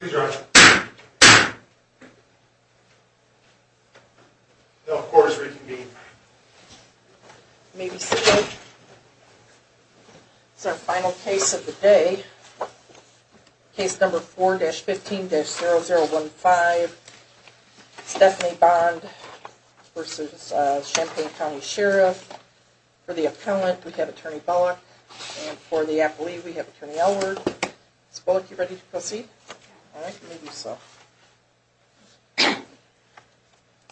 Please rise. The court is reconvened. You may be seated. This is our final case of the day. Case number 4-15-0015. Stephanie Bond v. Champaign County Sheriff. For the appellant, we have Attorney Bullock. And for the appellee, we have Attorney Elwood. Ms. Bullock, are you ready to proceed?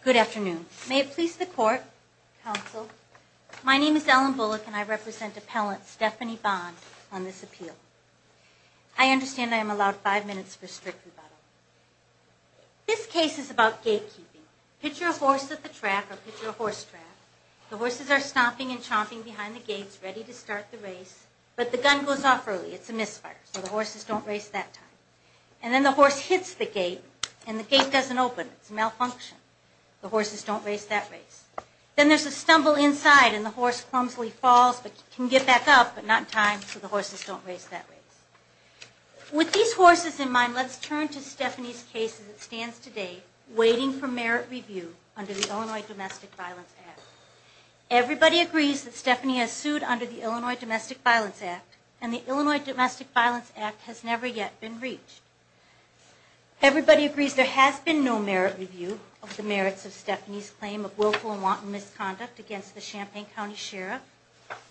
Good afternoon. May it please the court, counsel, My name is Ellen Bullock, and I represent appellant Stephanie Bond on this appeal. I understand I am allowed five minutes for strict rebuttal. This case is about gatekeeping. Picture a horse at the track, or picture a horse track. The horses are stomping and chomping behind the gates, ready to start the race, but the gun goes off early. It's a misfire, so the horses don't race that time. And then the horse hits the gate, and the gate doesn't open. It's a malfunction. The horses don't race that race. Then there's a stumble inside, and the horse clumsily falls, but can get back up, but not in time, so the horses don't race that race. With these horses in mind, let's turn to Stephanie's case as it stands today, waiting for merit review under the Illinois Domestic Violence Act. Everybody agrees that Stephanie has sued under the Illinois Domestic Violence Act, and the Illinois Domestic Violence Act has never yet been reached. Everybody agrees there has been no merit review of the merits of Stephanie's claim of willful and wanton misconduct against the Champaign County Sheriff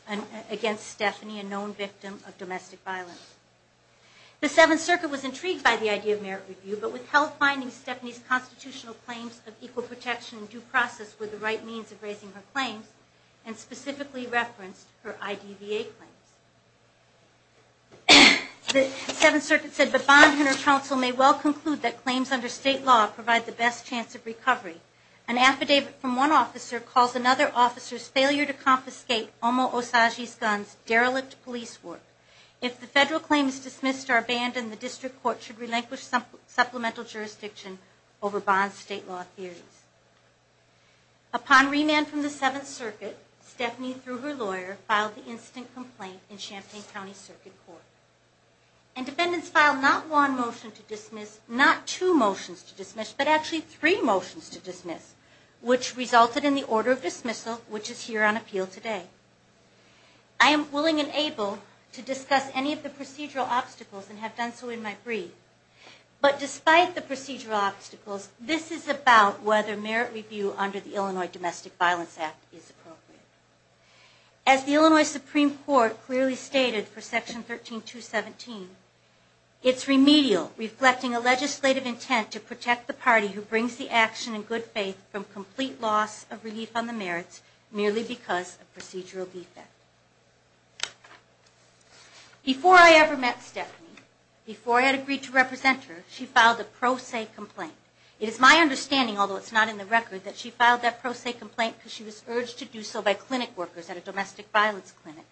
and against Stephanie, a known victim of domestic violence. The Seventh Circuit was intrigued by the idea of merit review, but withheld finding Stephanie's constitutional claims of equal protection and due process were the right means of raising her claims, and specifically referenced her IDVA claims. The Seventh Circuit said, The Bond-Hunter Council may well conclude that claims under state law provide the best chance of recovery. An affidavit from one officer calls another officer's failure to confiscate Omo Osagie's guns derelict police work. If the federal claim is dismissed or abandoned, the district court should relinquish supplemental jurisdiction over bond state law theories. Upon remand from the Seventh Circuit, Stephanie, through her lawyer, filed the instant complaint in Champaign County Circuit Court. And defendants filed not one motion to dismiss, not two motions to dismiss, but actually three motions to dismiss, which resulted in the order of dismissal, which is here on appeal today. I am willing and able to discuss any of the procedural obstacles and have done so in my brief. But despite the procedural obstacles, this is about whether merit review under the Illinois Domestic Violence Act is appropriate. As the Illinois Supreme Court clearly stated for Section 13217, it's remedial, reflecting a legislative intent to protect the party who brings the action in good faith from complete loss of relief on the merits merely because of procedural defect. Before I ever met Stephanie, before I had agreed to represent her, she filed a pro se complaint. It is my understanding, although it's not in the record, that she filed that pro se complaint because she was urged to do so by clinic workers at a domestic violence clinic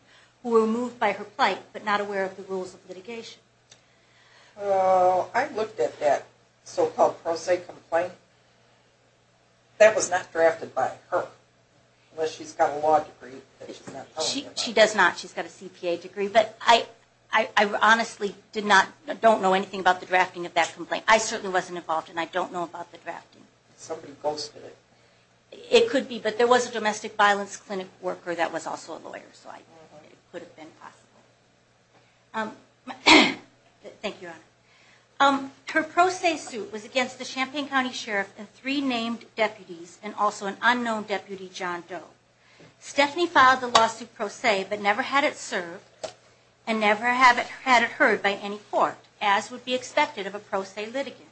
who were moved by her plight but not aware of the rules of litigation. I looked at that so-called pro se complaint. That was not drafted by her, unless she's got a law degree. She does not. She's got a CPA degree. But I honestly don't know anything about the drafting of that complaint. I certainly wasn't involved, and I don't know about the drafting. Somebody posted it. It could be, but there was a domestic violence clinic worker that was also a lawyer, so it could have been possible. Thank you, Your Honor. Her pro se suit was against the Champaign County Sheriff and three named deputies, and also an unknown deputy, John Doe. Stephanie filed the lawsuit pro se but never had it served and never had it heard by any court, as would be expected of a pro se litigant.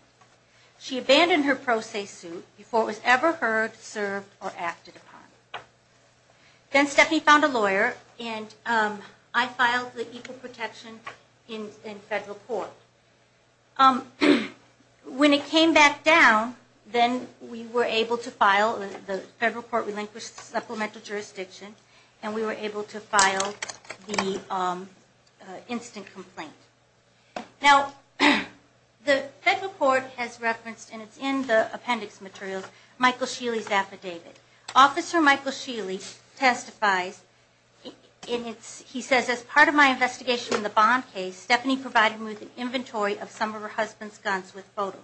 She abandoned her pro se suit before it was ever heard, served, or acted upon. Then Stephanie found a lawyer, and I filed the equal protection in federal court. When it came back down, then we were able to file the federal court relinquished supplemental jurisdiction, and we were able to file the instant complaint. Now, the federal court has referenced, and it's in the appendix materials, Michael Sheely's affidavit. Officer Michael Sheely testifies, and he says, As part of my investigation in the Bond case, Stephanie provided me with an inventory of some of her husband's guns with photos.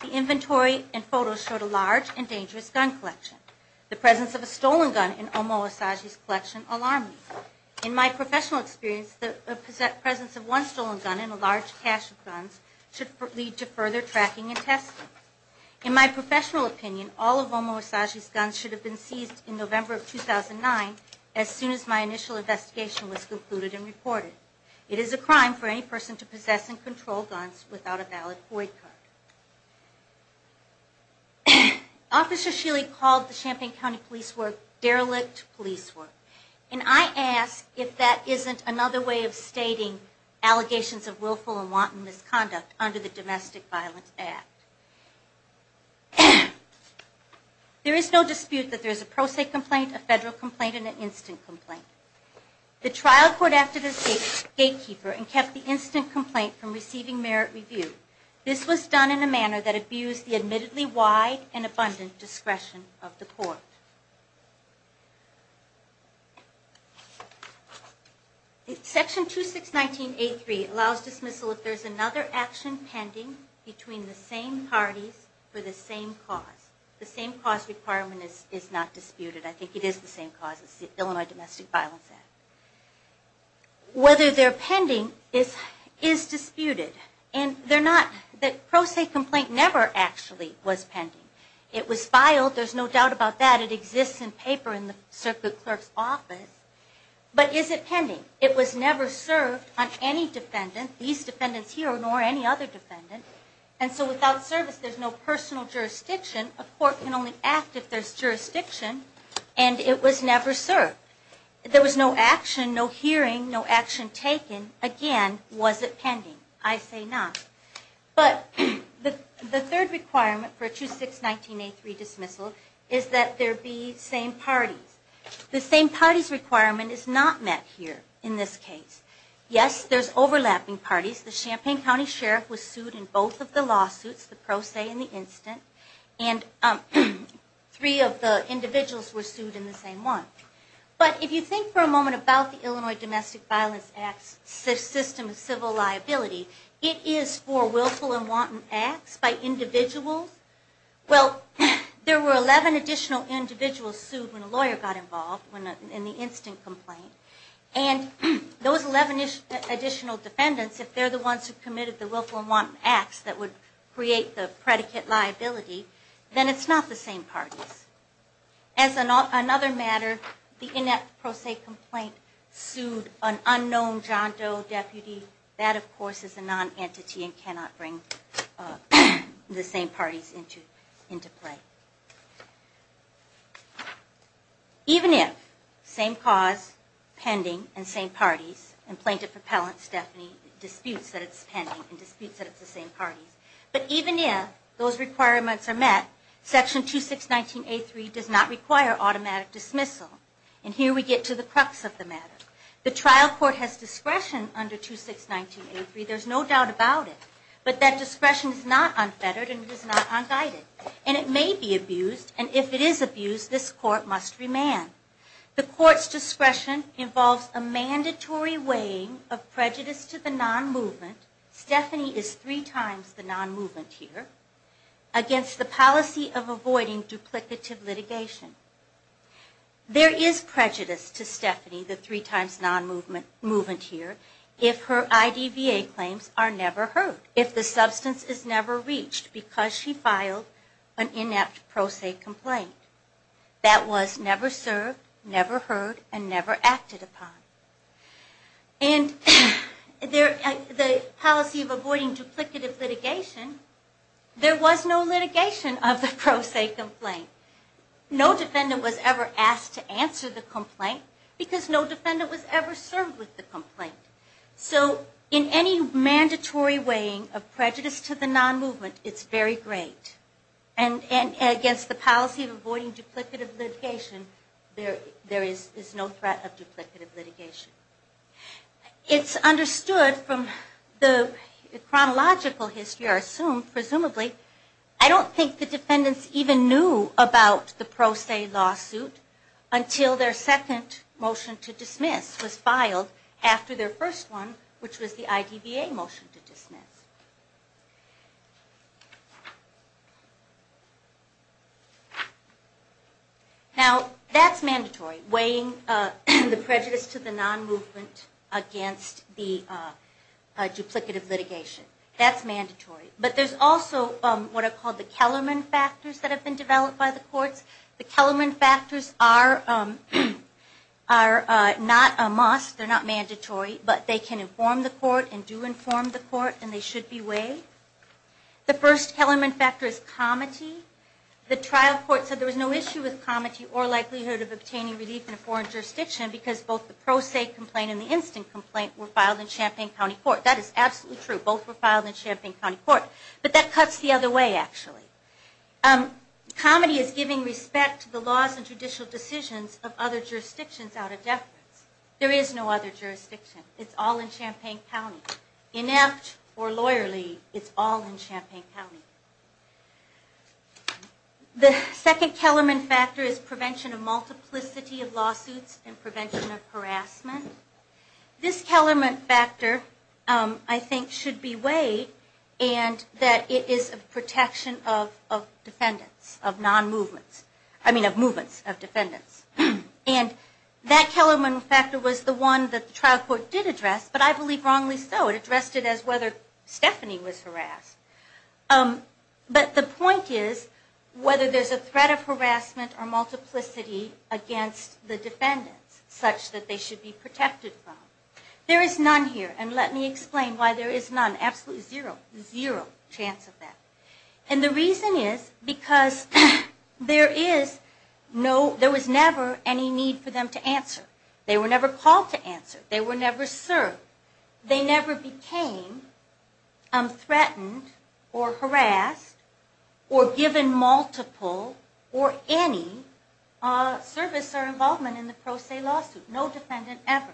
The inventory and photos showed a large and dangerous gun collection. The presence of a stolen gun in Omo Asaji's collection alarmed me. In my professional experience, the presence of one stolen gun in a large cache of guns should lead to further tracking and testing. In my professional opinion, all of Omo Asaji's guns should have been seized in November of 2009 as soon as my initial investigation was concluded and reported. It is a crime for any person to possess and control guns without a valid void card. Officer Sheely called the Champaign County police work derelict police work, and I ask if that isn't another way of stating allegations of willful and wanton misconduct under the Domestic Violence Act. There is no dispute that there is a pro se complaint, a federal complaint, and an instant complaint. The trial court acted as gatekeeper and kept the instant complaint from receiving merit review. This was done in a manner that abused the admittedly wide and abundant discretion of the court. Section 2619.83 allows dismissal if there is another action pending between the same parties for the same cause. The same cause requirement is not disputed. I think it is the same cause. It's the Illinois Domestic Violence Act. Whether they're pending is disputed. The pro se complaint never actually was pending. It was filed. There's no doubt about that. It exists in paper in the circuit clerk's office. But is it pending? It was never served on any defendant, these defendants here nor any other defendant, and so without service there's no personal jurisdiction. A court can only act if there's jurisdiction, and it was never served. There was no action, no hearing, no action taken. Again, was it pending? I say not. But the third requirement for 2619.83 dismissal is that there be same parties. The same parties requirement is not met here in this case. Yes, there's overlapping parties. The Champaign County Sheriff was sued in both of the lawsuits, the pro se and the instant, and three of the individuals were sued in the same one. But if you think for a moment about the Illinois Domestic Violence Act's system of civil liability, it is for willful and wanton acts by individuals. Well, there were 11 additional individuals sued when a lawyer got involved in the instant complaint, and those 11 additional defendants, if they're the ones who committed the willful and wanton acts that would create the predicate liability, then it's not the same parties. As another matter, the inept pro se complaint sued an unknown John Doe deputy, that of course is a non-entity and cannot bring the same parties into play. Even if same cause, pending, and same parties, and plaintiff repellent disputes that it's pending and disputes that it's the same parties. But even if those requirements are met, Section 2619A3 does not require automatic dismissal. And here we get to the crux of the matter. The trial court has discretion under 2619A3, there's no doubt about it, but that discretion is not unfettered and it is not unguided. And it may be abused, and if it is abused, this court must remand. The court's discretion involves a mandatory weighing of prejudice to the non-movement, Stephanie is three times the non-movement here, against the policy of avoiding duplicative litigation. There is prejudice to Stephanie, the three times non-movement here, if her IDVA claims are never heard, if the substance is never reached because she filed an inept pro se complaint. That was never served, never heard, and never acted upon. And the policy of avoiding duplicative litigation, there was no litigation of the pro se complaint. No defendant was ever asked to answer the complaint because no defendant was ever served with the complaint. So in any mandatory weighing of prejudice to the non-movement, it's very great. And against the policy of avoiding duplicative litigation, there is no threat of duplicative litigation. It's understood from the chronological history, or assumed presumably, I don't think the defendants even knew about the pro se lawsuit until their second motion to dismiss was filed after their first one, which was the IDVA motion to dismiss. Now, that's mandatory, weighing the prejudice to the non-movement against the duplicative litigation. That's mandatory. But there's also what are called the Kellerman factors that have been developed by the courts. The Kellerman factors are not a must, they're not mandatory, but they can inform the court and do inform the court and they should be weighed. The first Kellerman factor is comity. The trial court said there was no issue with comity or likelihood of obtaining relief in a foreign jurisdiction because both the pro se complaint and the instant complaint were filed in Champaign County Court. That is absolutely true. Both were filed in Champaign County Court. But that cuts the other way, actually. Comity is giving respect to the laws and judicial decisions of other jurisdictions out of deference. There is no other jurisdiction. It's all in Champaign County. Inept or lawyerly, it's all in Champaign County. The second Kellerman factor is prevention of multiplicity of lawsuits and prevention of harassment. This Kellerman factor, I think, should be weighed and that it is a protection of defendants, of non-movements, I mean of movements of defendants. And that Kellerman factor was the one that the trial court did address, but I believe wrongly so. It addressed it as whether Stephanie was harassed. But the point is whether there's a threat of harassment or multiplicity against the defendants such that they should be protected from. There is none here. And let me explain why there is none. Absolutely zero. Zero chance of that. And the reason is because there is no, there was never any need for them to answer. They were never called to answer. They were never served. They never became threatened or harassed or given multiple or any service or involvement in the pro se lawsuit. No defendant ever.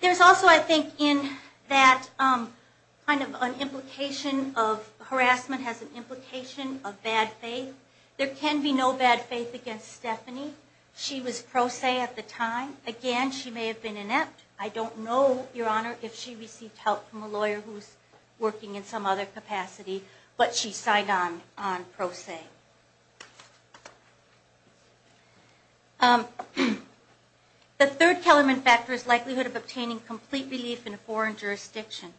There's also, I think, in that kind of an implication of harassment has an implication of bad faith. There can be no bad faith against Stephanie. She was pro se at the time. Again, she may have been inept. I don't know, Your Honor, if she received help from a lawyer who's working in some other capacity, but she signed on pro se. The third Kellerman factor is likelihood of obtaining complete relief in a foreign jurisdiction.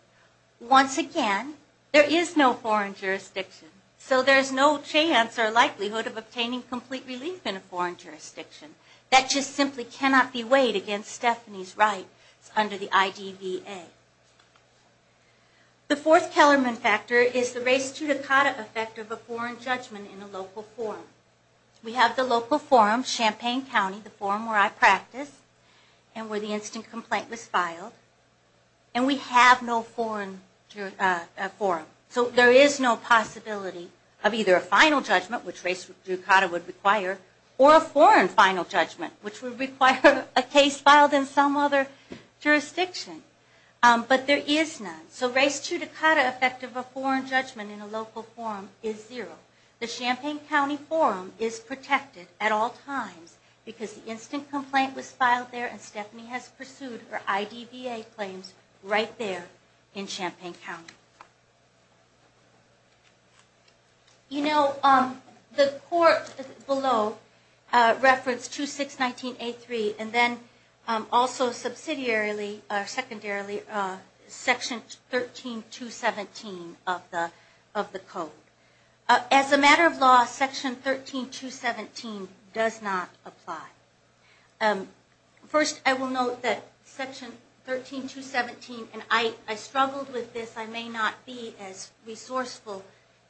Once again, there is no foreign jurisdiction. So there's no chance or likelihood of obtaining complete relief in a foreign jurisdiction. That just simply cannot be weighed against Stephanie's right under the IDVA. The fourth Kellerman factor is the res judicata effect of a foreign judgment in a local forum. We have the local forum, Champaign County, the forum where I practice and where the instant complaint was filed. And we have no foreign forum. So there is no possibility of either a final judgment, which res judicata would require, or a foreign final judgment, which would require a case filed in some other jurisdiction. But there is none. So res judicata effect of a foreign judgment in a local forum is zero. The Champaign County forum is protected at all times because the instant complaint was filed there and Stephanie has pursued her IDVA claims right there in Champaign County. You know, the court below referenced 2619A3 and then also subsidiarily or secondarily Section 13217 of the code. As a matter of law, Section 13217 does not apply. First, I will note that Section 13217, and I struggled with this, I may not be as resourceful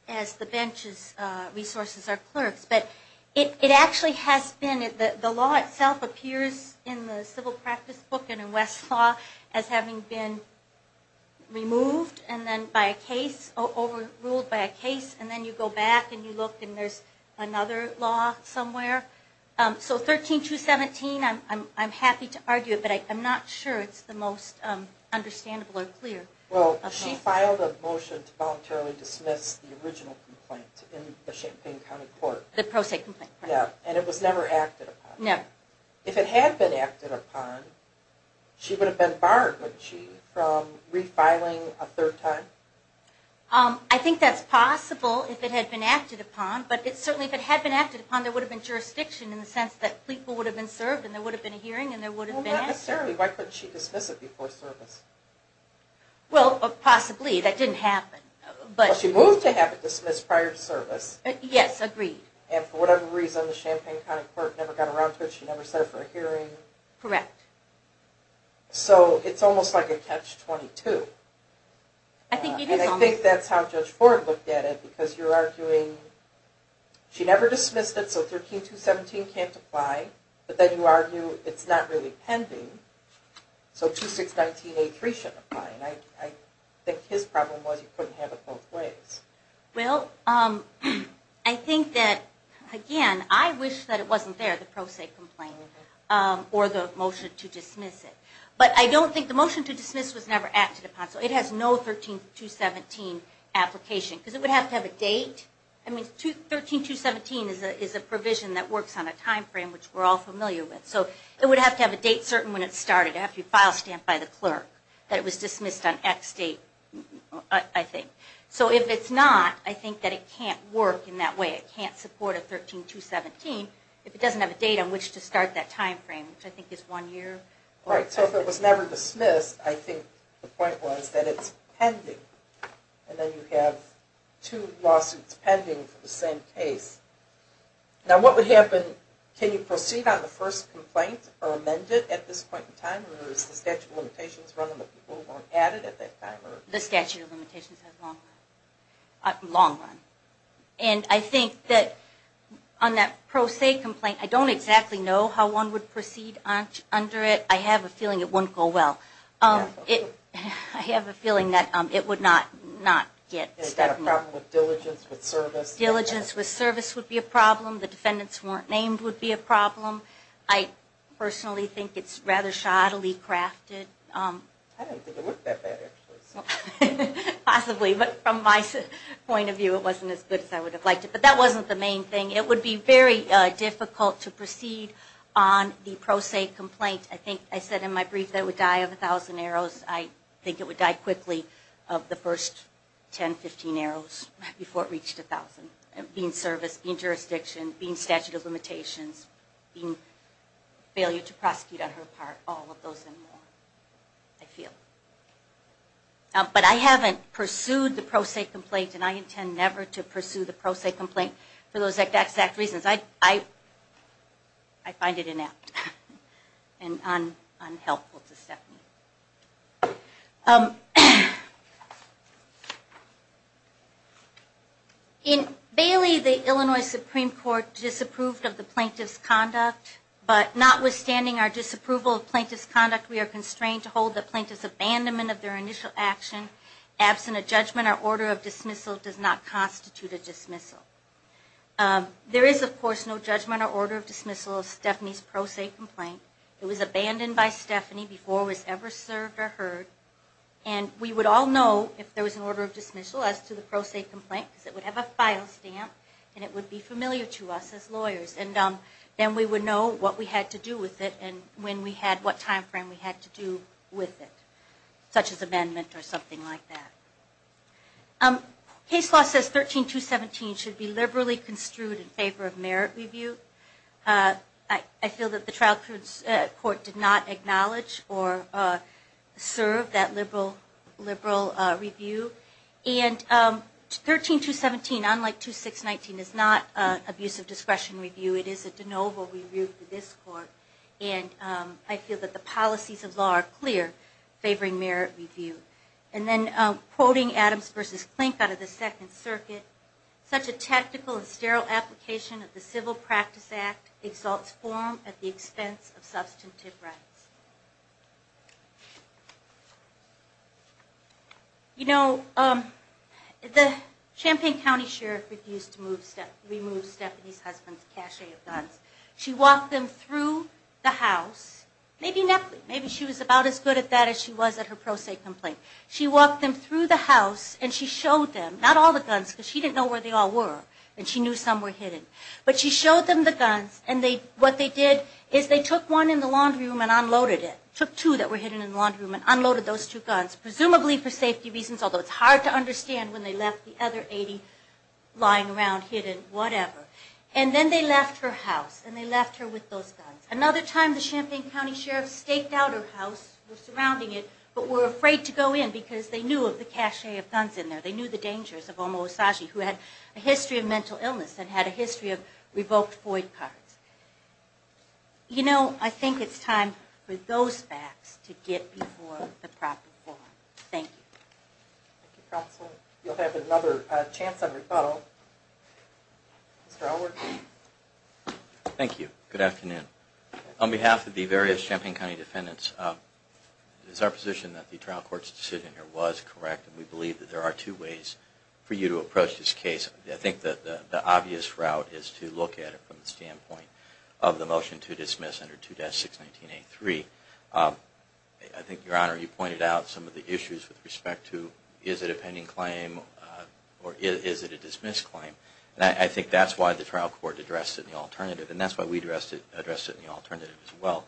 as the bench's resources or clerks, but it actually has been, the law itself appears in the civil practice book and in West Law as having been removed and then by a case, overruled by a case, and then you go back and you look and there's another law somewhere. So 13217, I'm happy to argue it, but I'm not sure it's the most understandable or clear. Well, she filed a motion to voluntarily dismiss the original complaint in the Champaign County court. The pro se complaint. Yeah, and it was never acted upon. Never. If it had been acted upon, she would have been barred, would she, from refiling a third time? I think that's possible if it had been acted upon, but certainly if it had been acted upon, there would have been jurisdiction in the sense that people would have been served and there would have been a hearing and there would have been an answer. Well, not necessarily. Why couldn't she dismiss it before service? Well, possibly. That didn't happen. Well, she moved to have it dismissed prior to service. Yes, agreed. And for whatever reason, the Champaign County court never got around to it. She never set it for a hearing. Correct. So it's almost like a catch-22. I think it is almost. And I think that's how Judge Ford looked at it because you're arguing she never dismissed it, so 13217 can't apply, but then you argue it's not really pending, so 2619A3 should apply. And I think his problem was he couldn't have it both ways. Well, I think that, again, I wish that it wasn't there, the pro se complaint or the motion to dismiss it. But I don't think the motion to dismiss was never acted upon, so it has no 13217 application because it would have to have a date. I mean, 13217 is a provision that works on a time frame, which we're all familiar with. So it would have to have a date certain when it started. It would have to be file stamped by the clerk that it was dismissed on X date, I think. So if it's not, I think that it can't work in that way. It can't support a 13217 if it doesn't have a date on which to start that time frame, which I think is one year. Right. So if it was never dismissed, I think the point was that it's pending. And then you have two lawsuits pending for the same case. Now, what would happen, can you proceed on the first complaint or amend it at this point in time, or is the statute of limitations running that people weren't added at that time? The statute of limitations has a long run. And I think that on that pro se complaint, I don't exactly know how one would proceed under it. I have a feeling it wouldn't go well. I have a feeling that it would not get stepped up. Diligence with service. Diligence with service would be a problem. The defendants weren't named would be a problem. I personally think it's rather shoddily crafted. I don't think it looked that bad, actually. Possibly. But from my point of view, it wasn't as good as I would have liked it. But that wasn't the main thing. It would be very difficult to proceed on the pro se complaint. I think I said in my brief that it would die of 1,000 arrows. I think it would die quickly of the first 10, 15 arrows, before it reached 1,000. Being service, being jurisdiction, being statute of limitations, being failure to prosecute on her part, all of those and more, I feel. But I haven't pursued the pro se complaint, and I intend never to pursue the pro se complaint for those exact reasons. I find it inept and unhelpful to Stephanie. In Bailey, the Illinois Supreme Court disapproved of the plaintiff's conduct. But notwithstanding our disapproval of plaintiff's conduct, we are constrained to hold the plaintiff's abandonment of their initial action, absent a judgment or order of dismissal does not constitute a dismissal. There is, of course, no judgment or order of dismissal of Stephanie's pro se complaint. It was abandoned by Stephanie before it was ever served or heard. And we would all know if there was an order of dismissal as to the pro se complaint, because it would have a file stamp and it would be familiar to us as lawyers. And then we would know what we had to do with it and when we had what time frame we had to do with it, such as amendment or something like that. Case law says 13217 should be liberally construed in favor of merit review. I feel that the trial court did not acknowledge or serve that liberal review. And 13217, unlike 2619, is not an abuse of discretion review. It is a de novo review for this court. And I feel that the policies of law are clear favoring merit review. And then quoting Adams v. Klink out of the Second Circuit, such a tactical and sterile application of the Civil Practice Act exalts form at the expense of substantive rights. You know, the Champaign County Sheriff refused to remove Stephanie's husband's cachet of guns. She walked them through the house. Maybe she was about as good at that as she was at her pro se complaint. She walked them through the house and she showed them, not all the guns because she didn't know where they all were, and she knew some were hidden, but she showed them the guns and what they did is they took one in the laundry room and unloaded it, took two that were hidden in the laundry room and unloaded those two guns, presumably for safety reasons, although it's hard to understand when they left the other 80 lying around hidden, whatever. And then they left her house and they left her with those guns. Another time the Champaign County Sheriff staked out her house, was surrounding it, but were afraid to go in because they knew of the cachet of guns in there. They knew the dangers of Omo Osagie, who had a history of mental illness and had a history of revoked FOID cards. You know, I think it's time for those facts to get before the proper court. Thank you. Thank you, Patsy. You'll have another chance at a rebuttal. Mr. Elwood? Thank you. Good afternoon. On behalf of the various Champaign County defendants, it is our position that the trial court's decision here was correct and we believe that there are two ways for you to approach this case. I think that the obvious route is to look at it from the standpoint of the motion to dismiss under 2-619-83. I think, Your Honor, you pointed out some of the issues with respect to is it a pending claim or is it a dismissed claim? And I think that's why the trial court addressed it in the alternative and that's why we addressed it in the alternative as well.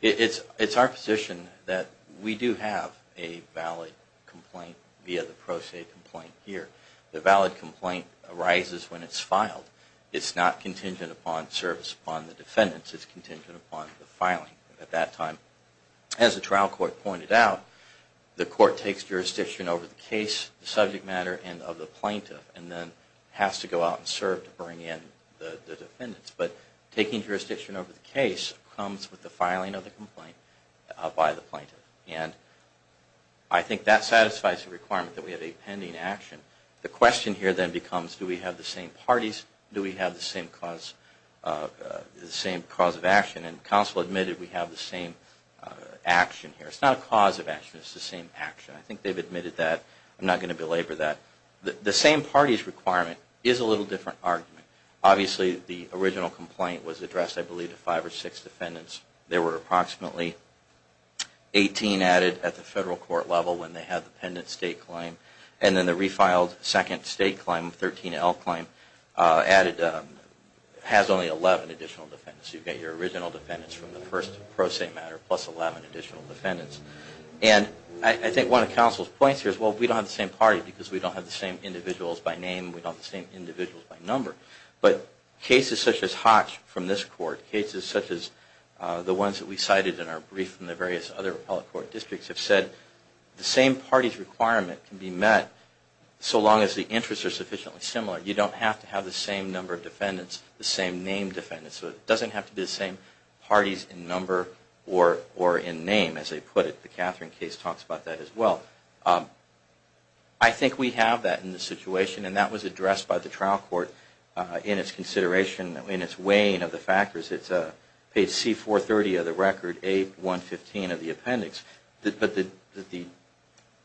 It's our position that we do have a valid complaint via the pro se complaint here. The valid complaint arises when it's filed. It's not contingent upon service upon the defendants. It's contingent upon the filing at that time. As the trial court pointed out, the court takes jurisdiction over the case, the subject matter, and of the plaintiff and then has to go out and serve to bring in the defendants. But taking jurisdiction over the case comes with the filing of the complaint by the plaintiff. And I think that satisfies the requirement that we have a pending action. The question here then becomes, do we have the same parties? Do we have the same cause of action? And counsel admitted we have the same action here. It's not a cause of action. It's the same action. I think they've admitted that. I'm not going to belabor that. The same parties requirement is a little different argument. Obviously, the original complaint was addressed, I believe, to five or six defendants. There were approximately 18 added at the federal court level when they had the pending state claim. And then the refiled second state claim, 13L claim, has only 11 additional defendants. You get your original defendants from the first pro se matter plus 11 additional defendants. And I think one of counsel's points here is, well, we don't have the same party because we don't have the same individuals by name. We don't have the same individuals by number. But cases such as Hotch from this court, cases such as the ones that we cited in our brief from the various other appellate court districts have said, the same parties requirement can be met so long as the interests are sufficiently similar. You don't have to have the same number of defendants, the same name defendants. So it doesn't have to be the same parties in number or in name, as they put it. The Catherine case talks about that as well. I think we have that in the situation, and that was addressed by the trial court in its consideration, in its weighing of the factors. It's page C430 of the record, A115 of the appendix. But the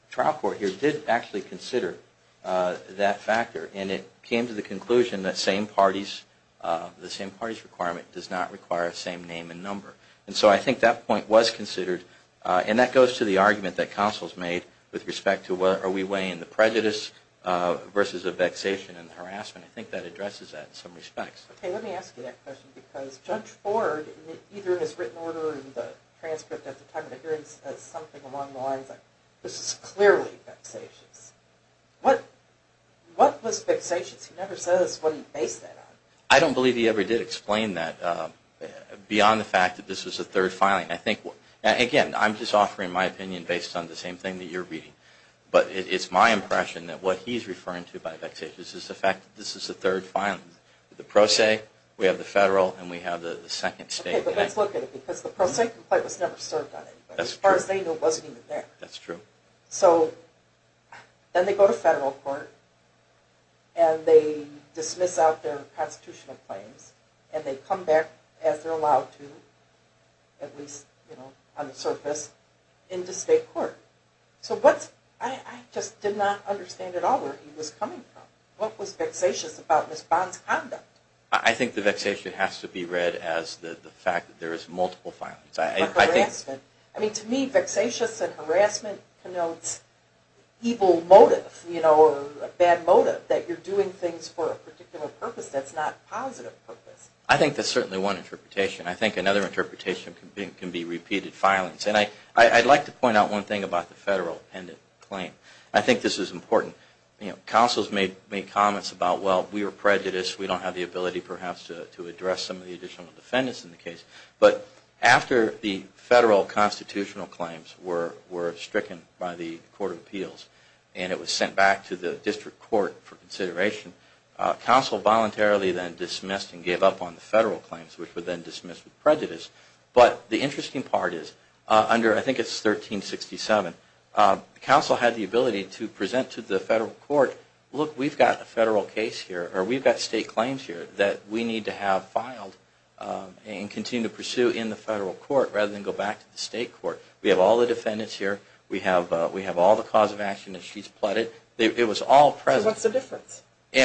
trial court here did actually consider that factor, and it came to the conclusion that the same parties requirement does not require the same name and number. And so I think that point was considered, and that goes to the argument that counsel's made with respect to are we weighing the prejudice versus the vexation and the harassment. I think that addresses that in some respects. Okay, let me ask you that question, because Judge Ford, either in his written order or in the transcript at the time of the hearing, says something along the lines of, this is clearly vexatious. What was vexatious? He never says what he based that on. I don't believe he ever did explain that beyond the fact that this was a third filing. Again, I'm just offering my opinion based on the same thing that you're reading. But it's my impression that what he's referring to by vexatious is the fact that this is a third filing. The pro se, we have the federal, and we have the second state. Okay, but let's look at it, because the pro se complaint was never served on anybody. As far as they knew, it wasn't even there. That's true. So then they go to federal court, and they dismiss out their constitutional claims, and they come back, as they're allowed to, at least on the surface, into state court. So I just did not understand at all where he was coming from. What was vexatious about Ms. Bond's conduct? I think the vexation has to be read as the fact that there is multiple filings. I mean, to me, vexatious and harassment connotes evil motive, or a bad motive, that you're doing things for a particular purpose that's not a positive purpose. I think that's certainly one interpretation. I think another interpretation can be repeated filings. And I'd like to point out one thing about the federal appendant claim. I think this is important. Councils made comments about, well, we are prejudiced. We don't have the ability, perhaps, to address some of the additional defendants in the case. But after the federal constitutional claims were stricken by the Court of Appeals, and it was sent back to the district court for consideration, council voluntarily then dismissed and gave up on the federal claims, which were then dismissed with prejudice. But the interesting part is, under, I think it's 1367, council had the ability to present to the federal court, look, we've got a federal case here, or we've got state claims here, that we need to have filed and continue to pursue in the federal court, rather than go back to the state court. We have all the defendants here. We have all the cause of action that she's plotted. It was all present. So what's the difference?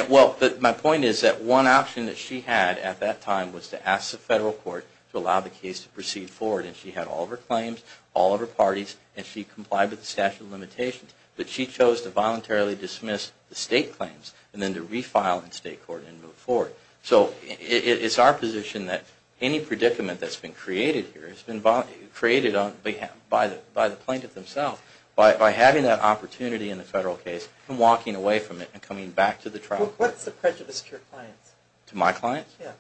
Well, my point is that one option that she had at that time was to ask the federal court to allow the case to proceed forward. And she had all of her claims, all of her parties, and she complied with the statute of limitations. But she chose to voluntarily dismiss the state claims and then to refile in state court and move forward. So it's our position that any predicament that's been created here by the plaintiff themselves, by having that opportunity in the federal case and walking away from it and coming back to the trial. What's the prejudice to your clients? To my clients? Yeah.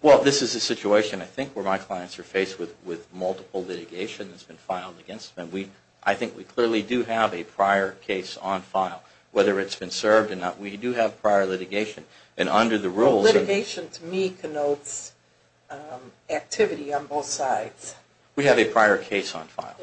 Well, this is a situation, I think, where my clients are faced with multiple litigation that's been filed against them. And I think we clearly do have a prior case on file. Whether it's been served or not, we do have prior litigation. And under the rules... activity on both sides. We have a prior case on file.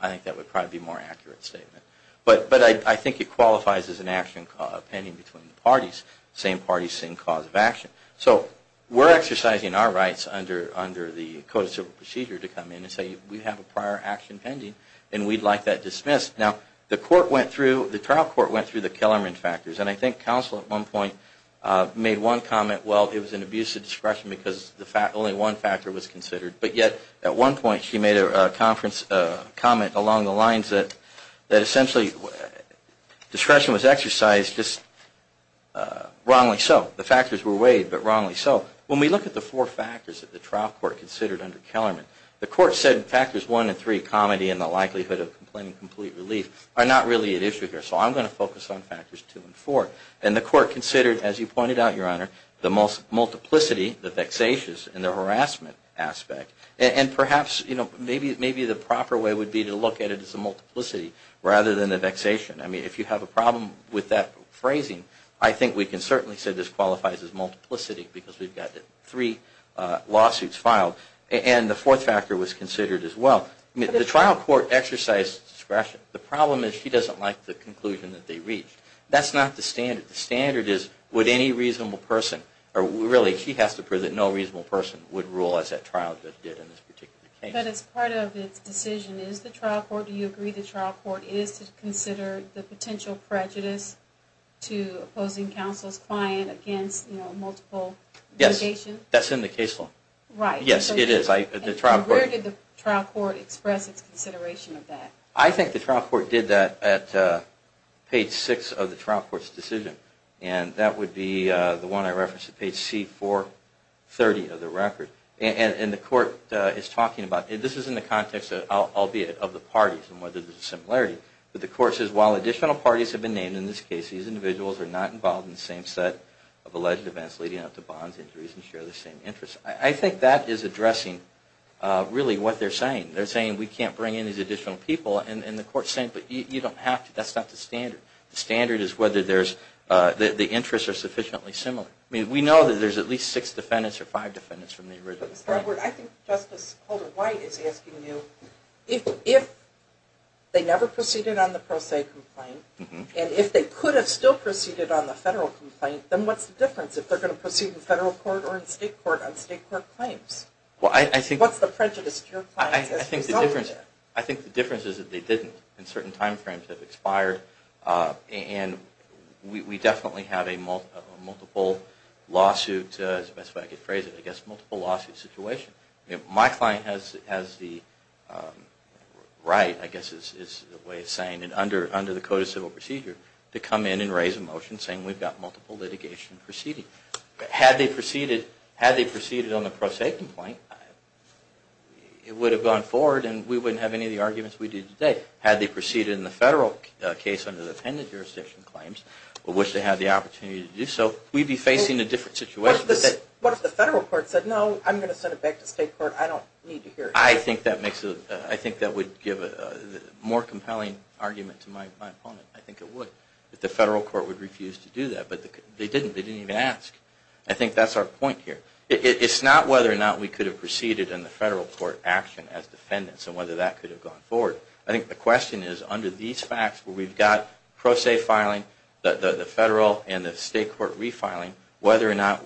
I think that would probably be a more accurate statement. But I think it qualifies as an action pending between the parties. Same parties, same cause of action. So we're exercising our rights under the Code of Civil Procedure to come in and say we have a prior action pending and we'd like that dismissed. Now, the trial court went through the Kellerman factors. And I think counsel at one point made one comment, that, well, it was an abuse of discretion because only one factor was considered. But yet, at one point, she made a comment along the lines that, essentially, discretion was exercised just wrongly so. The factors were weighed, but wrongly so. When we look at the four factors that the trial court considered under Kellerman, the court said factors 1 and 3, comedy and the likelihood of complaining of complete relief, are not really at issue here. So I'm going to focus on factors 2 and 4. And the court considered, as you pointed out, Your Honor, the multiplicity, the vexatious, and the harassment aspect. And perhaps, you know, maybe the proper way would be to look at it as a multiplicity rather than a vexation. I mean, if you have a problem with that phrasing, I think we can certainly say this qualifies as multiplicity because we've got three lawsuits filed. And the fourth factor was considered as well. The trial court exercised discretion. The problem is she doesn't like the conclusion that they reached. That's not the standard. The standard is would any reasonable person, or really, no reasonable person would rule as that trial did in this particular case. But as part of its decision, is the trial court, do you agree the trial court, is to consider the potential prejudice to opposing counsel's client against multiple litigation? Yes, that's in the case law. Right. Yes, it is. And where did the trial court express its consideration of that? I think the trial court did that at page six of the trial court's decision. And that would be the one I referenced at page C430 of the record. And the court is talking about, this is in the context, albeit, of the parties and whether there's a similarity. But the court says, while additional parties have been named in this case, these individuals are not involved in the same set of alleged events leading up to bonds, injuries, and share the same interests. I think that is addressing, really, what they're saying. They're saying, we can't bring in these additional people. And the court's saying, but you don't have to. That's not the standard. The standard is whether the interests are sufficiently similar. We know that there's at least six defendants or five defendants from the original trial. I think Justice Holder-White is asking you, if they never proceeded on the pro se complaint, and if they could have still proceeded on the federal complaint, then what's the difference if they're going to proceed in federal court or in state court on state court claims? What's the prejudice to your clients? I think the difference is that they didn't in certain time frames that have expired. And we definitely have a multiple lawsuit situation. My client has the right, I guess is the way of saying it, under the Code of Civil Procedure, to come in and raise a motion saying we've got multiple litigation proceeding. Had they proceeded on the pro se complaint, it would have gone forward and we wouldn't have any of the arguments we do today. Had they proceeded in the federal case under the appended jurisdiction claims, we'd wish to have the opportunity to do so. We'd be facing a different situation. What if the federal court said, no, I'm going to send it back to state court. I don't need to hear it. I think that would give a more compelling argument to my opponent. I think it would, that the federal court would refuse to do that. But they didn't. They didn't even ask. I think that's our point here. It's not whether or not we could have proceeded in the federal court action as defendants and whether that could have gone forward. I think the question is, under these facts where we've got pro se filing, the federal and the state court refiling, whether or not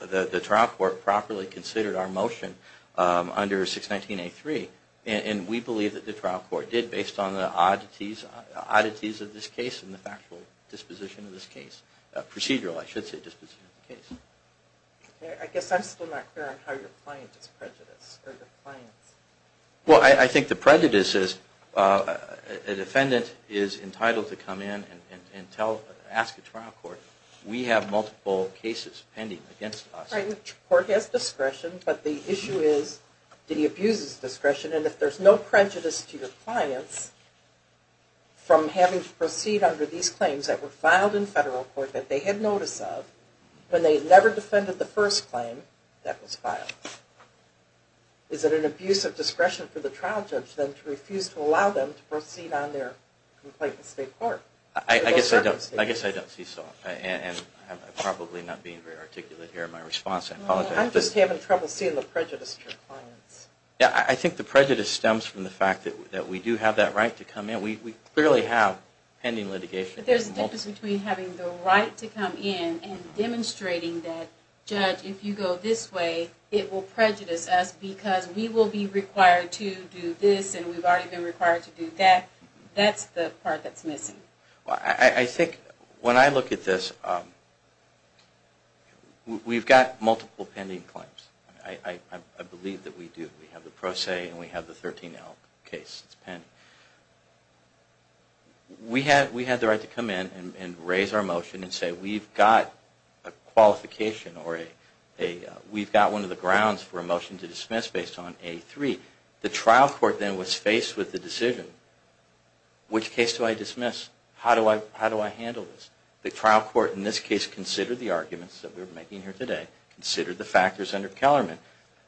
the trial court properly considered our motion under 619A3. And we believe that the trial court did based on the oddities of this case and the factual disposition of this case. Procedural, I should say, disposition of the case. I guess I'm still not clear on how your client is prejudiced or your clients. Well, I think the prejudice is a defendant is entitled to come in and ask a trial court. We have multiple cases pending against us. Right. The court has discretion, but the issue is that he abuses discretion. And if there's no prejudice to your clients from having to proceed under these claims that were filed in federal court that they had notice of when they never defended the first claim that was filed, is it an abuse of discretion for the trial judge then to refuse to allow them to proceed on their complaint with state court? I guess I don't see so. And I'm probably not being very articulate here in my response. I apologize. I'm just having trouble seeing the prejudice to your clients. Yeah, I think the prejudice stems from the fact that we do have that right to come in. We clearly have pending litigation. But there's a difference between having the right to come in and demonstrating that, judge, if you go this way, it will prejudice us because we will be required to do this and we've already been required to do that. That's the part that's missing. I think when I look at this, we've got multiple pending claims. I believe that we do. We have the Pro Se and we have the 13L case. It's pending. We have the right to come in and raise our motion and say we've got a qualification or we've got one of the grounds for a motion to dismiss based on A3. The trial court then was faced with the decision, which case do I dismiss? How do I handle this? The trial court in this case considered the arguments that we're making here today, considered the factors under Kellerman,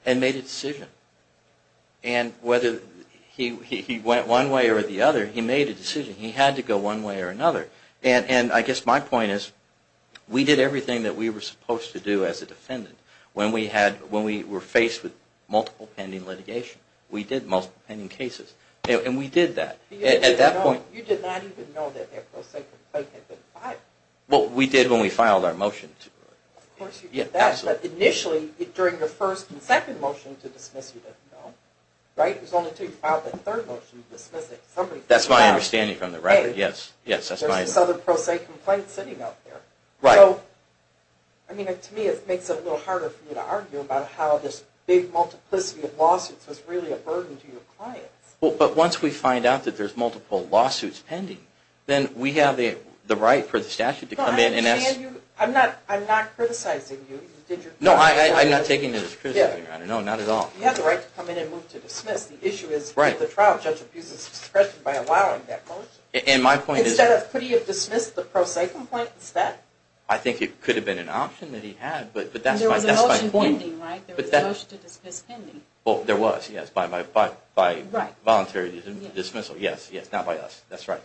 and made a decision. And whether he went one way or the other, he made a decision. He had to go one way or another. And I guess my point is we did everything that we were supposed to do as a defendant when we were faced with multiple pending litigation. We did multiple pending cases, and we did that. You did not even know that the Pro Se complaint had been filed. Well, we did when we filed our motion. Of course you did that. But initially, during your first and second motion to dismiss, you didn't know. Right? It was only until you filed that third motion to dismiss it. That's my understanding from the record, yes. There's a Southern Pro Se complaint sitting out there. Right. To me, it makes it a little harder for me to argue about how this big multiplicity of lawsuits was really a burden to your clients. But once we find out that there's multiple lawsuits pending, then we have the right for the statute to come in and ask. I'm not criticizing you. No, I'm not taking this as criticizing, Your Honor. No, not at all. You have the right to come in and move to dismiss. The issue is the trial judge abuses his discretion by allowing that motion. And my point is... Instead, could he have dismissed the Pro Se complaint instead? I think it could have been an option that he had, but that's my point. There was a motion pending, right? There was a motion to dismiss pending. There was, yes, by voluntary dismissal. Yes, yes, not by us. That's right.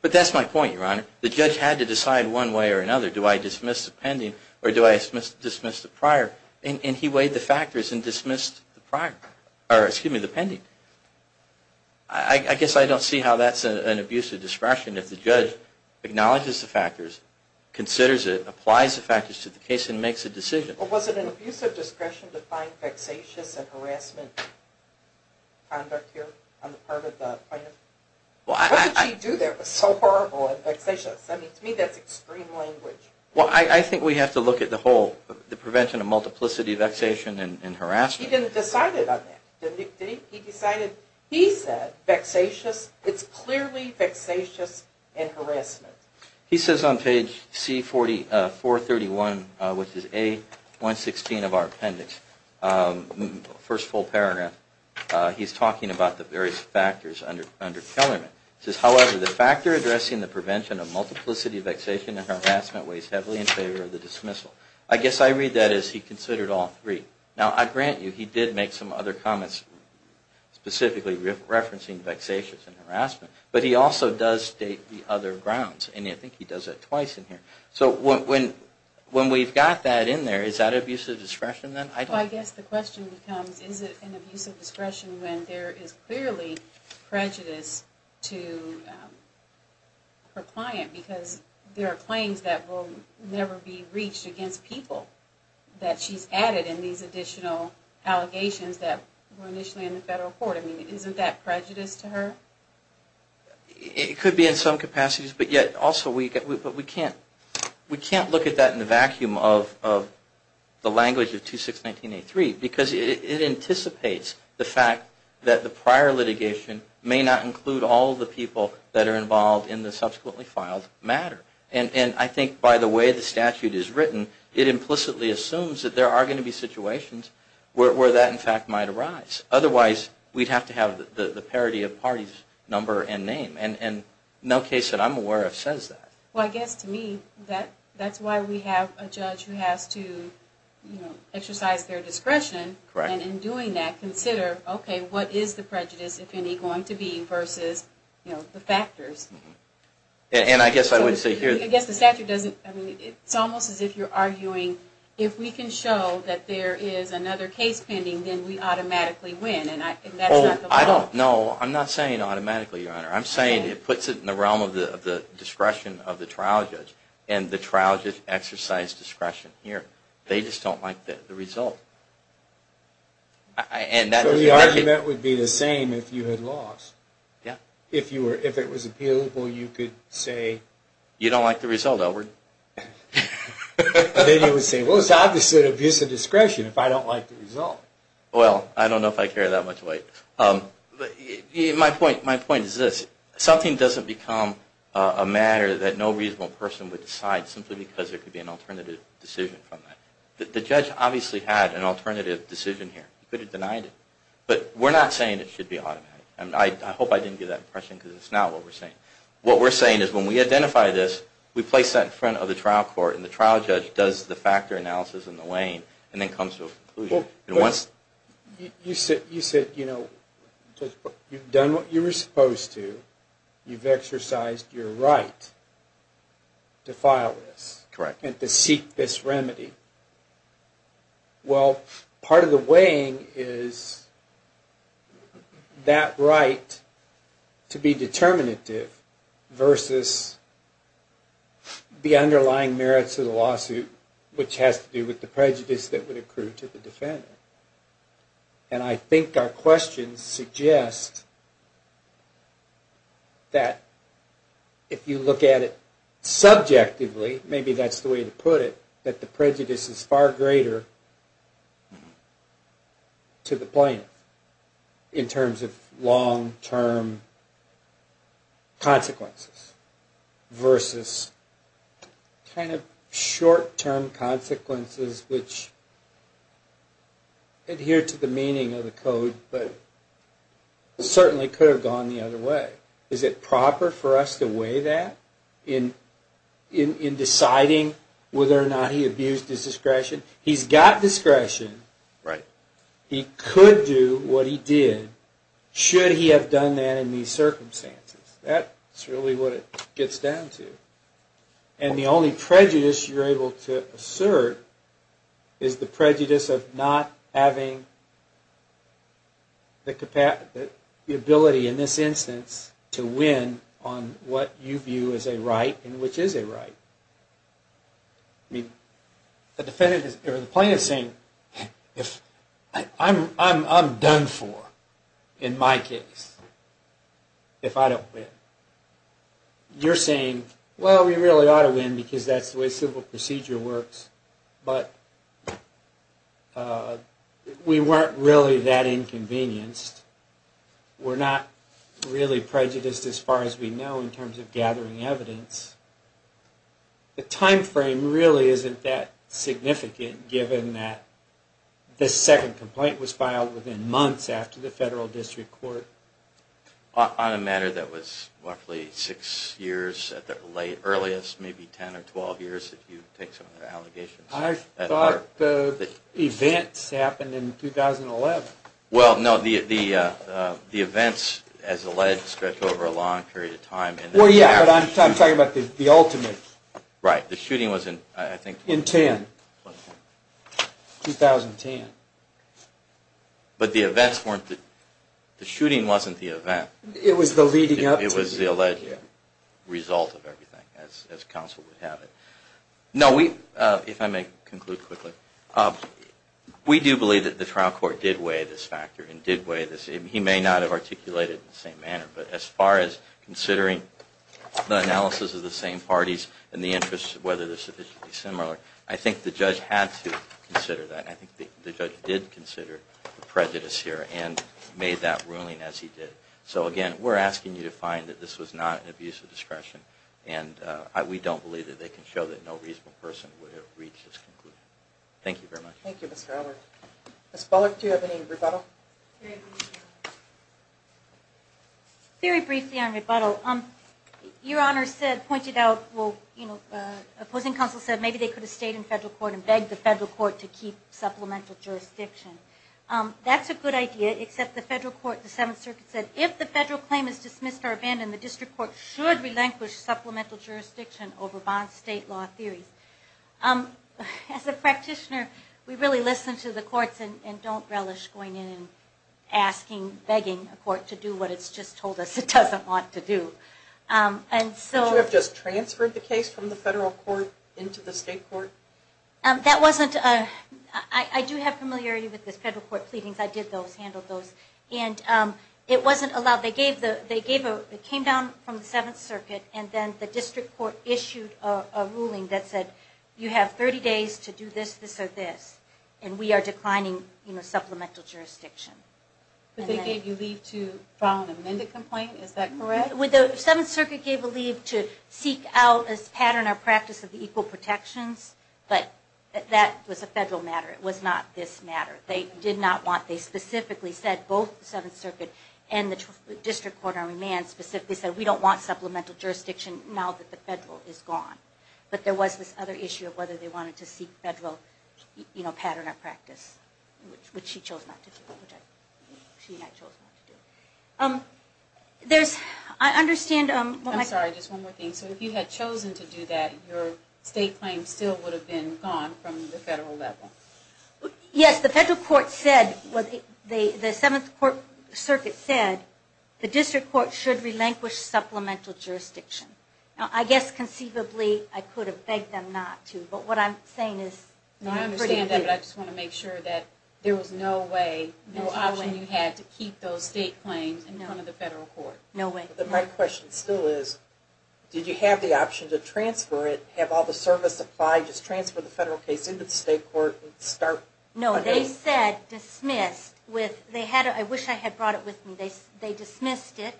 But that's my point, Your Honor. The judge had to decide one way or another, do I dismiss the pending or do I dismiss the prior? And he weighed the factors and dismissed the pending. I guess I don't see how that's an abuse of discretion if the judge acknowledges the factors, considers it, applies the factors to the case, and makes a decision. Well, was it an abuse of discretion to find vexatious and harassment conduct here on the part of the plaintiff? What did she do that was so horrible? I mean, to me, that's extreme language. Well, I think we have to look at the whole, the prevention of multiplicity, vexation, and harassment. He didn't decide it on that, did he? He decided, he said, vexatious, it's clearly vexatious and harassment. He says on page C431, which is A116 of our appendix, first full paragraph, he's talking about the various factors under Kellerman. He says, however, the factor addressing the prevention of multiplicity, vexation, and harassment weighs heavily in favor of the dismissal. I guess I read that as he considered all three. Now, I grant you, he did make some other comments specifically referencing vexatious and harassment, but he also does state the other grounds, and I think he does that twice in here. So when we've got that in there, is that abuse of discretion then? Well, I guess the question becomes, is it an abuse of discretion when there is clearly prejudice to her client because there are claims that will never be reached against people that she's added in these additional allegations that were initially in the federal court? I mean, isn't that prejudice to her? It could be in some capacities, but yet also we can't look at that in the vacuum of the language of 2619A3 because it anticipates the fact that the prior litigation may not include all the people that are involved in the subsequently filed matter. And I think by the way the statute is written, it implicitly assumes that there are going to be situations where that, in fact, might arise. Otherwise, we'd have to have the parity of parties, number, and name. And no case that I'm aware of says that. Well, I guess to me, that's why we have a judge who has to exercise their discretion. And I guess I would say here. I guess the statute doesn't. It's almost as if you're arguing if we can show that there is another case pending, then we automatically win. And that's not the law. No, I'm not saying automatically, Your Honor. I'm saying it puts it in the realm of the discretion of the trial judge and the trial judge exercise discretion here. They just don't like the result. So the argument would be the same if you had lost. Yeah. If it was appealable, you could say. You don't like the result, Elwood. Then you would say, well, it's obviously an abuse of discretion if I don't like the result. Well, I don't know if I carry that much weight. My point is this. Something doesn't become a matter that no reasonable person would decide simply because there could be an alternative decision from that. The judge obviously had an alternative decision here. He could have denied it. But we're not saying it should be automatic. I hope I didn't give that impression because it's not what we're saying. What we're saying is when we identify this, we place that in front of the trial court and the trial judge does the factor analysis in the lane and then comes to a conclusion. You said, you know, you've done what you were supposed to. You've exercised your right to file this. Correct. And to seek this remedy. Well, part of the weighing is that right to be determinative versus the underlying merits of the lawsuit, which has to do with the prejudice that would accrue to the defendant. And I think our questions suggest that if you look at it subjectively, maybe that's the way to put it, that the prejudice is far greater to the plaintiff in terms of long-term consequences versus kind of short-term consequences which adhere to the meaning of the code but certainly could have gone the other way. Is it proper for us to weigh that in deciding whether or not he abused his discretion? He's got discretion. He could do what he did should he have done that in these circumstances. That's really what it gets down to. And the only prejudice you're able to assert is the prejudice of not having the ability in this instance to win on what you view as a right and which is a right. The plaintiff is saying, I'm done for in my case if I don't win. You're saying, well, we really ought to win because that's the way civil We weren't really that inconvenienced. We're not really prejudiced as far as we know in terms of gathering evidence. The time frame really isn't that significant given that this second complaint was filed within months after the federal district court. On a matter that was roughly six years at the earliest, maybe 10 or 12 years if you take some of the allegations. I thought the events happened in 2011. Well, no. The events, as alleged, stretch over a long period of time. Well, yeah, but I'm talking about the ultimate. Right. The shooting was in 2010. But the shooting wasn't the event. It was the leading up to the shooting. It was the alleged result of everything, as counsel would have it. No, if I may conclude quickly. We do believe that the trial court did weigh this factor and did weigh this. He may not have articulated it in the same manner. But as far as considering the analysis of the same parties and the interest of whether they're sufficiently similar, I think the judge had to consider that. I think the judge did consider the prejudice here and made that ruling as he did. So, again, we're asking you to find that this was not an abuse of discretion. And we don't believe that they can show that no reasonable person would have reached this conclusion. Thank you very much. Thank you, Mr. Allard. Ms. Bullock, do you have any rebuttal? Very briefly on rebuttal. Your Honor said, pointed out, opposing counsel said maybe they could have stayed in federal court and begged the federal court to keep supplemental jurisdiction. That's a good idea, except the federal court, the Seventh Circuit said if the federal claim is dismissed or abandoned, then the district court should relinquish supplemental jurisdiction over bond state law theories. As a practitioner, we really listen to the courts and don't relish going in and asking, begging a court to do what it's just told us it doesn't want to do. Did you have just transferred the case from the federal court into the state court? That wasn't – I do have familiarity with the federal court pleadings. I did those, handled those. It came down from the Seventh Circuit, and then the district court issued a ruling that said you have 30 days to do this, this, or this, and we are declining supplemental jurisdiction. They gave you leave to file an amended complaint, is that correct? The Seventh Circuit gave a leave to seek out a pattern or practice of equal protections, but that was a federal matter. It was not this matter. They specifically said both the Seventh Circuit and the district court on remand specifically said we don't want supplemental jurisdiction now that the federal is gone. But there was this other issue of whether they wanted to seek federal pattern or practice, which she chose not to do. I understand – I'm sorry, just one more thing. So if you had chosen to do that, your state claim still would have been gone from the federal level? Yes, the federal court said – the Seventh Circuit said the district court should relinquish supplemental jurisdiction. Now I guess conceivably I could have begged them not to, but what I'm saying is – I understand that, but I just want to make sure that there was no way, no option you had to keep those state claims in front of the federal court. No way. My question still is, did you have the option to transfer it, have all the services applied, just transfer the federal case into the state court and start – No, they said dismissed with – I wish I had brought it with me. They dismissed it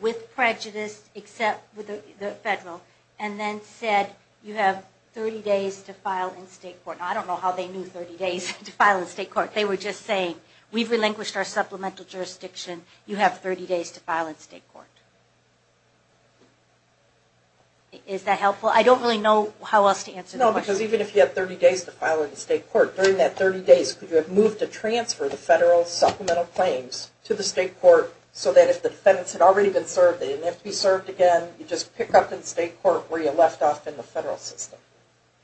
with prejudice, except with the federal, and then said you have 30 days to file in state court. Now I don't know how they knew 30 days to file in state court. They were just saying we've relinquished our supplemental jurisdiction. You have 30 days to file in state court. Is that helpful? I don't really know how else to answer the question. No, because even if you have 30 days to file in state court, during that 30 days, could you have moved to transfer the federal supplemental claims to the state court so that if the defendants had already been served, they didn't have to be served again, you just pick up in state court where you left off in the federal system?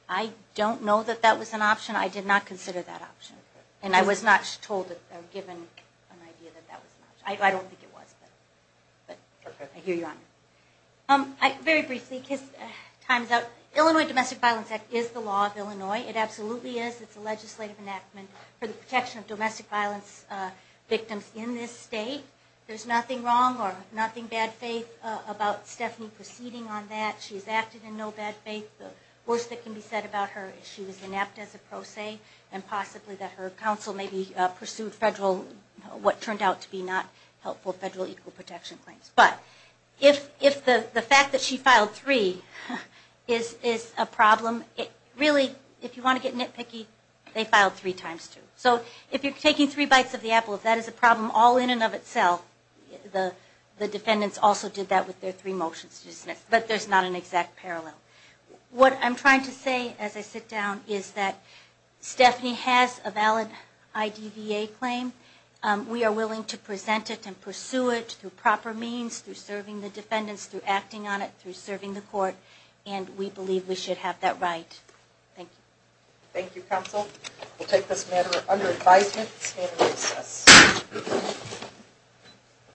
I don't know that that was an option. I did not consider that option. And I was not told or given an idea that that was an option. I don't think it was, but I hear you on it. Very briefly, because time's up, Illinois Domestic Violence Act is the law of Illinois. It absolutely is. It's a legislative enactment for the protection of domestic violence victims in this state. There's nothing wrong or nothing bad faith about Stephanie proceeding on that. She has acted in no bad faith. The worst that can be said about her is she was enacted as a pro se and possibly that her counsel maybe pursued what turned out to be not helpful federal equal protection claims. But if the fact that she filed three is a problem, it really, if you want to get nitpicky, they filed three times two. So if you're taking three bites of the apple, if that is a problem all in and of itself, the defendants also did that with their three motions, but there's not an exact parallel. What I'm trying to say as I sit down is that Stephanie has a valid IDVA claim. We are willing to present it and pursue it through proper means, through serving the defendants, through acting on it, through serving the court, and we believe we should have that right. Thank you. Thank you, counsel. We'll take this matter under advisement. This matter is assessed.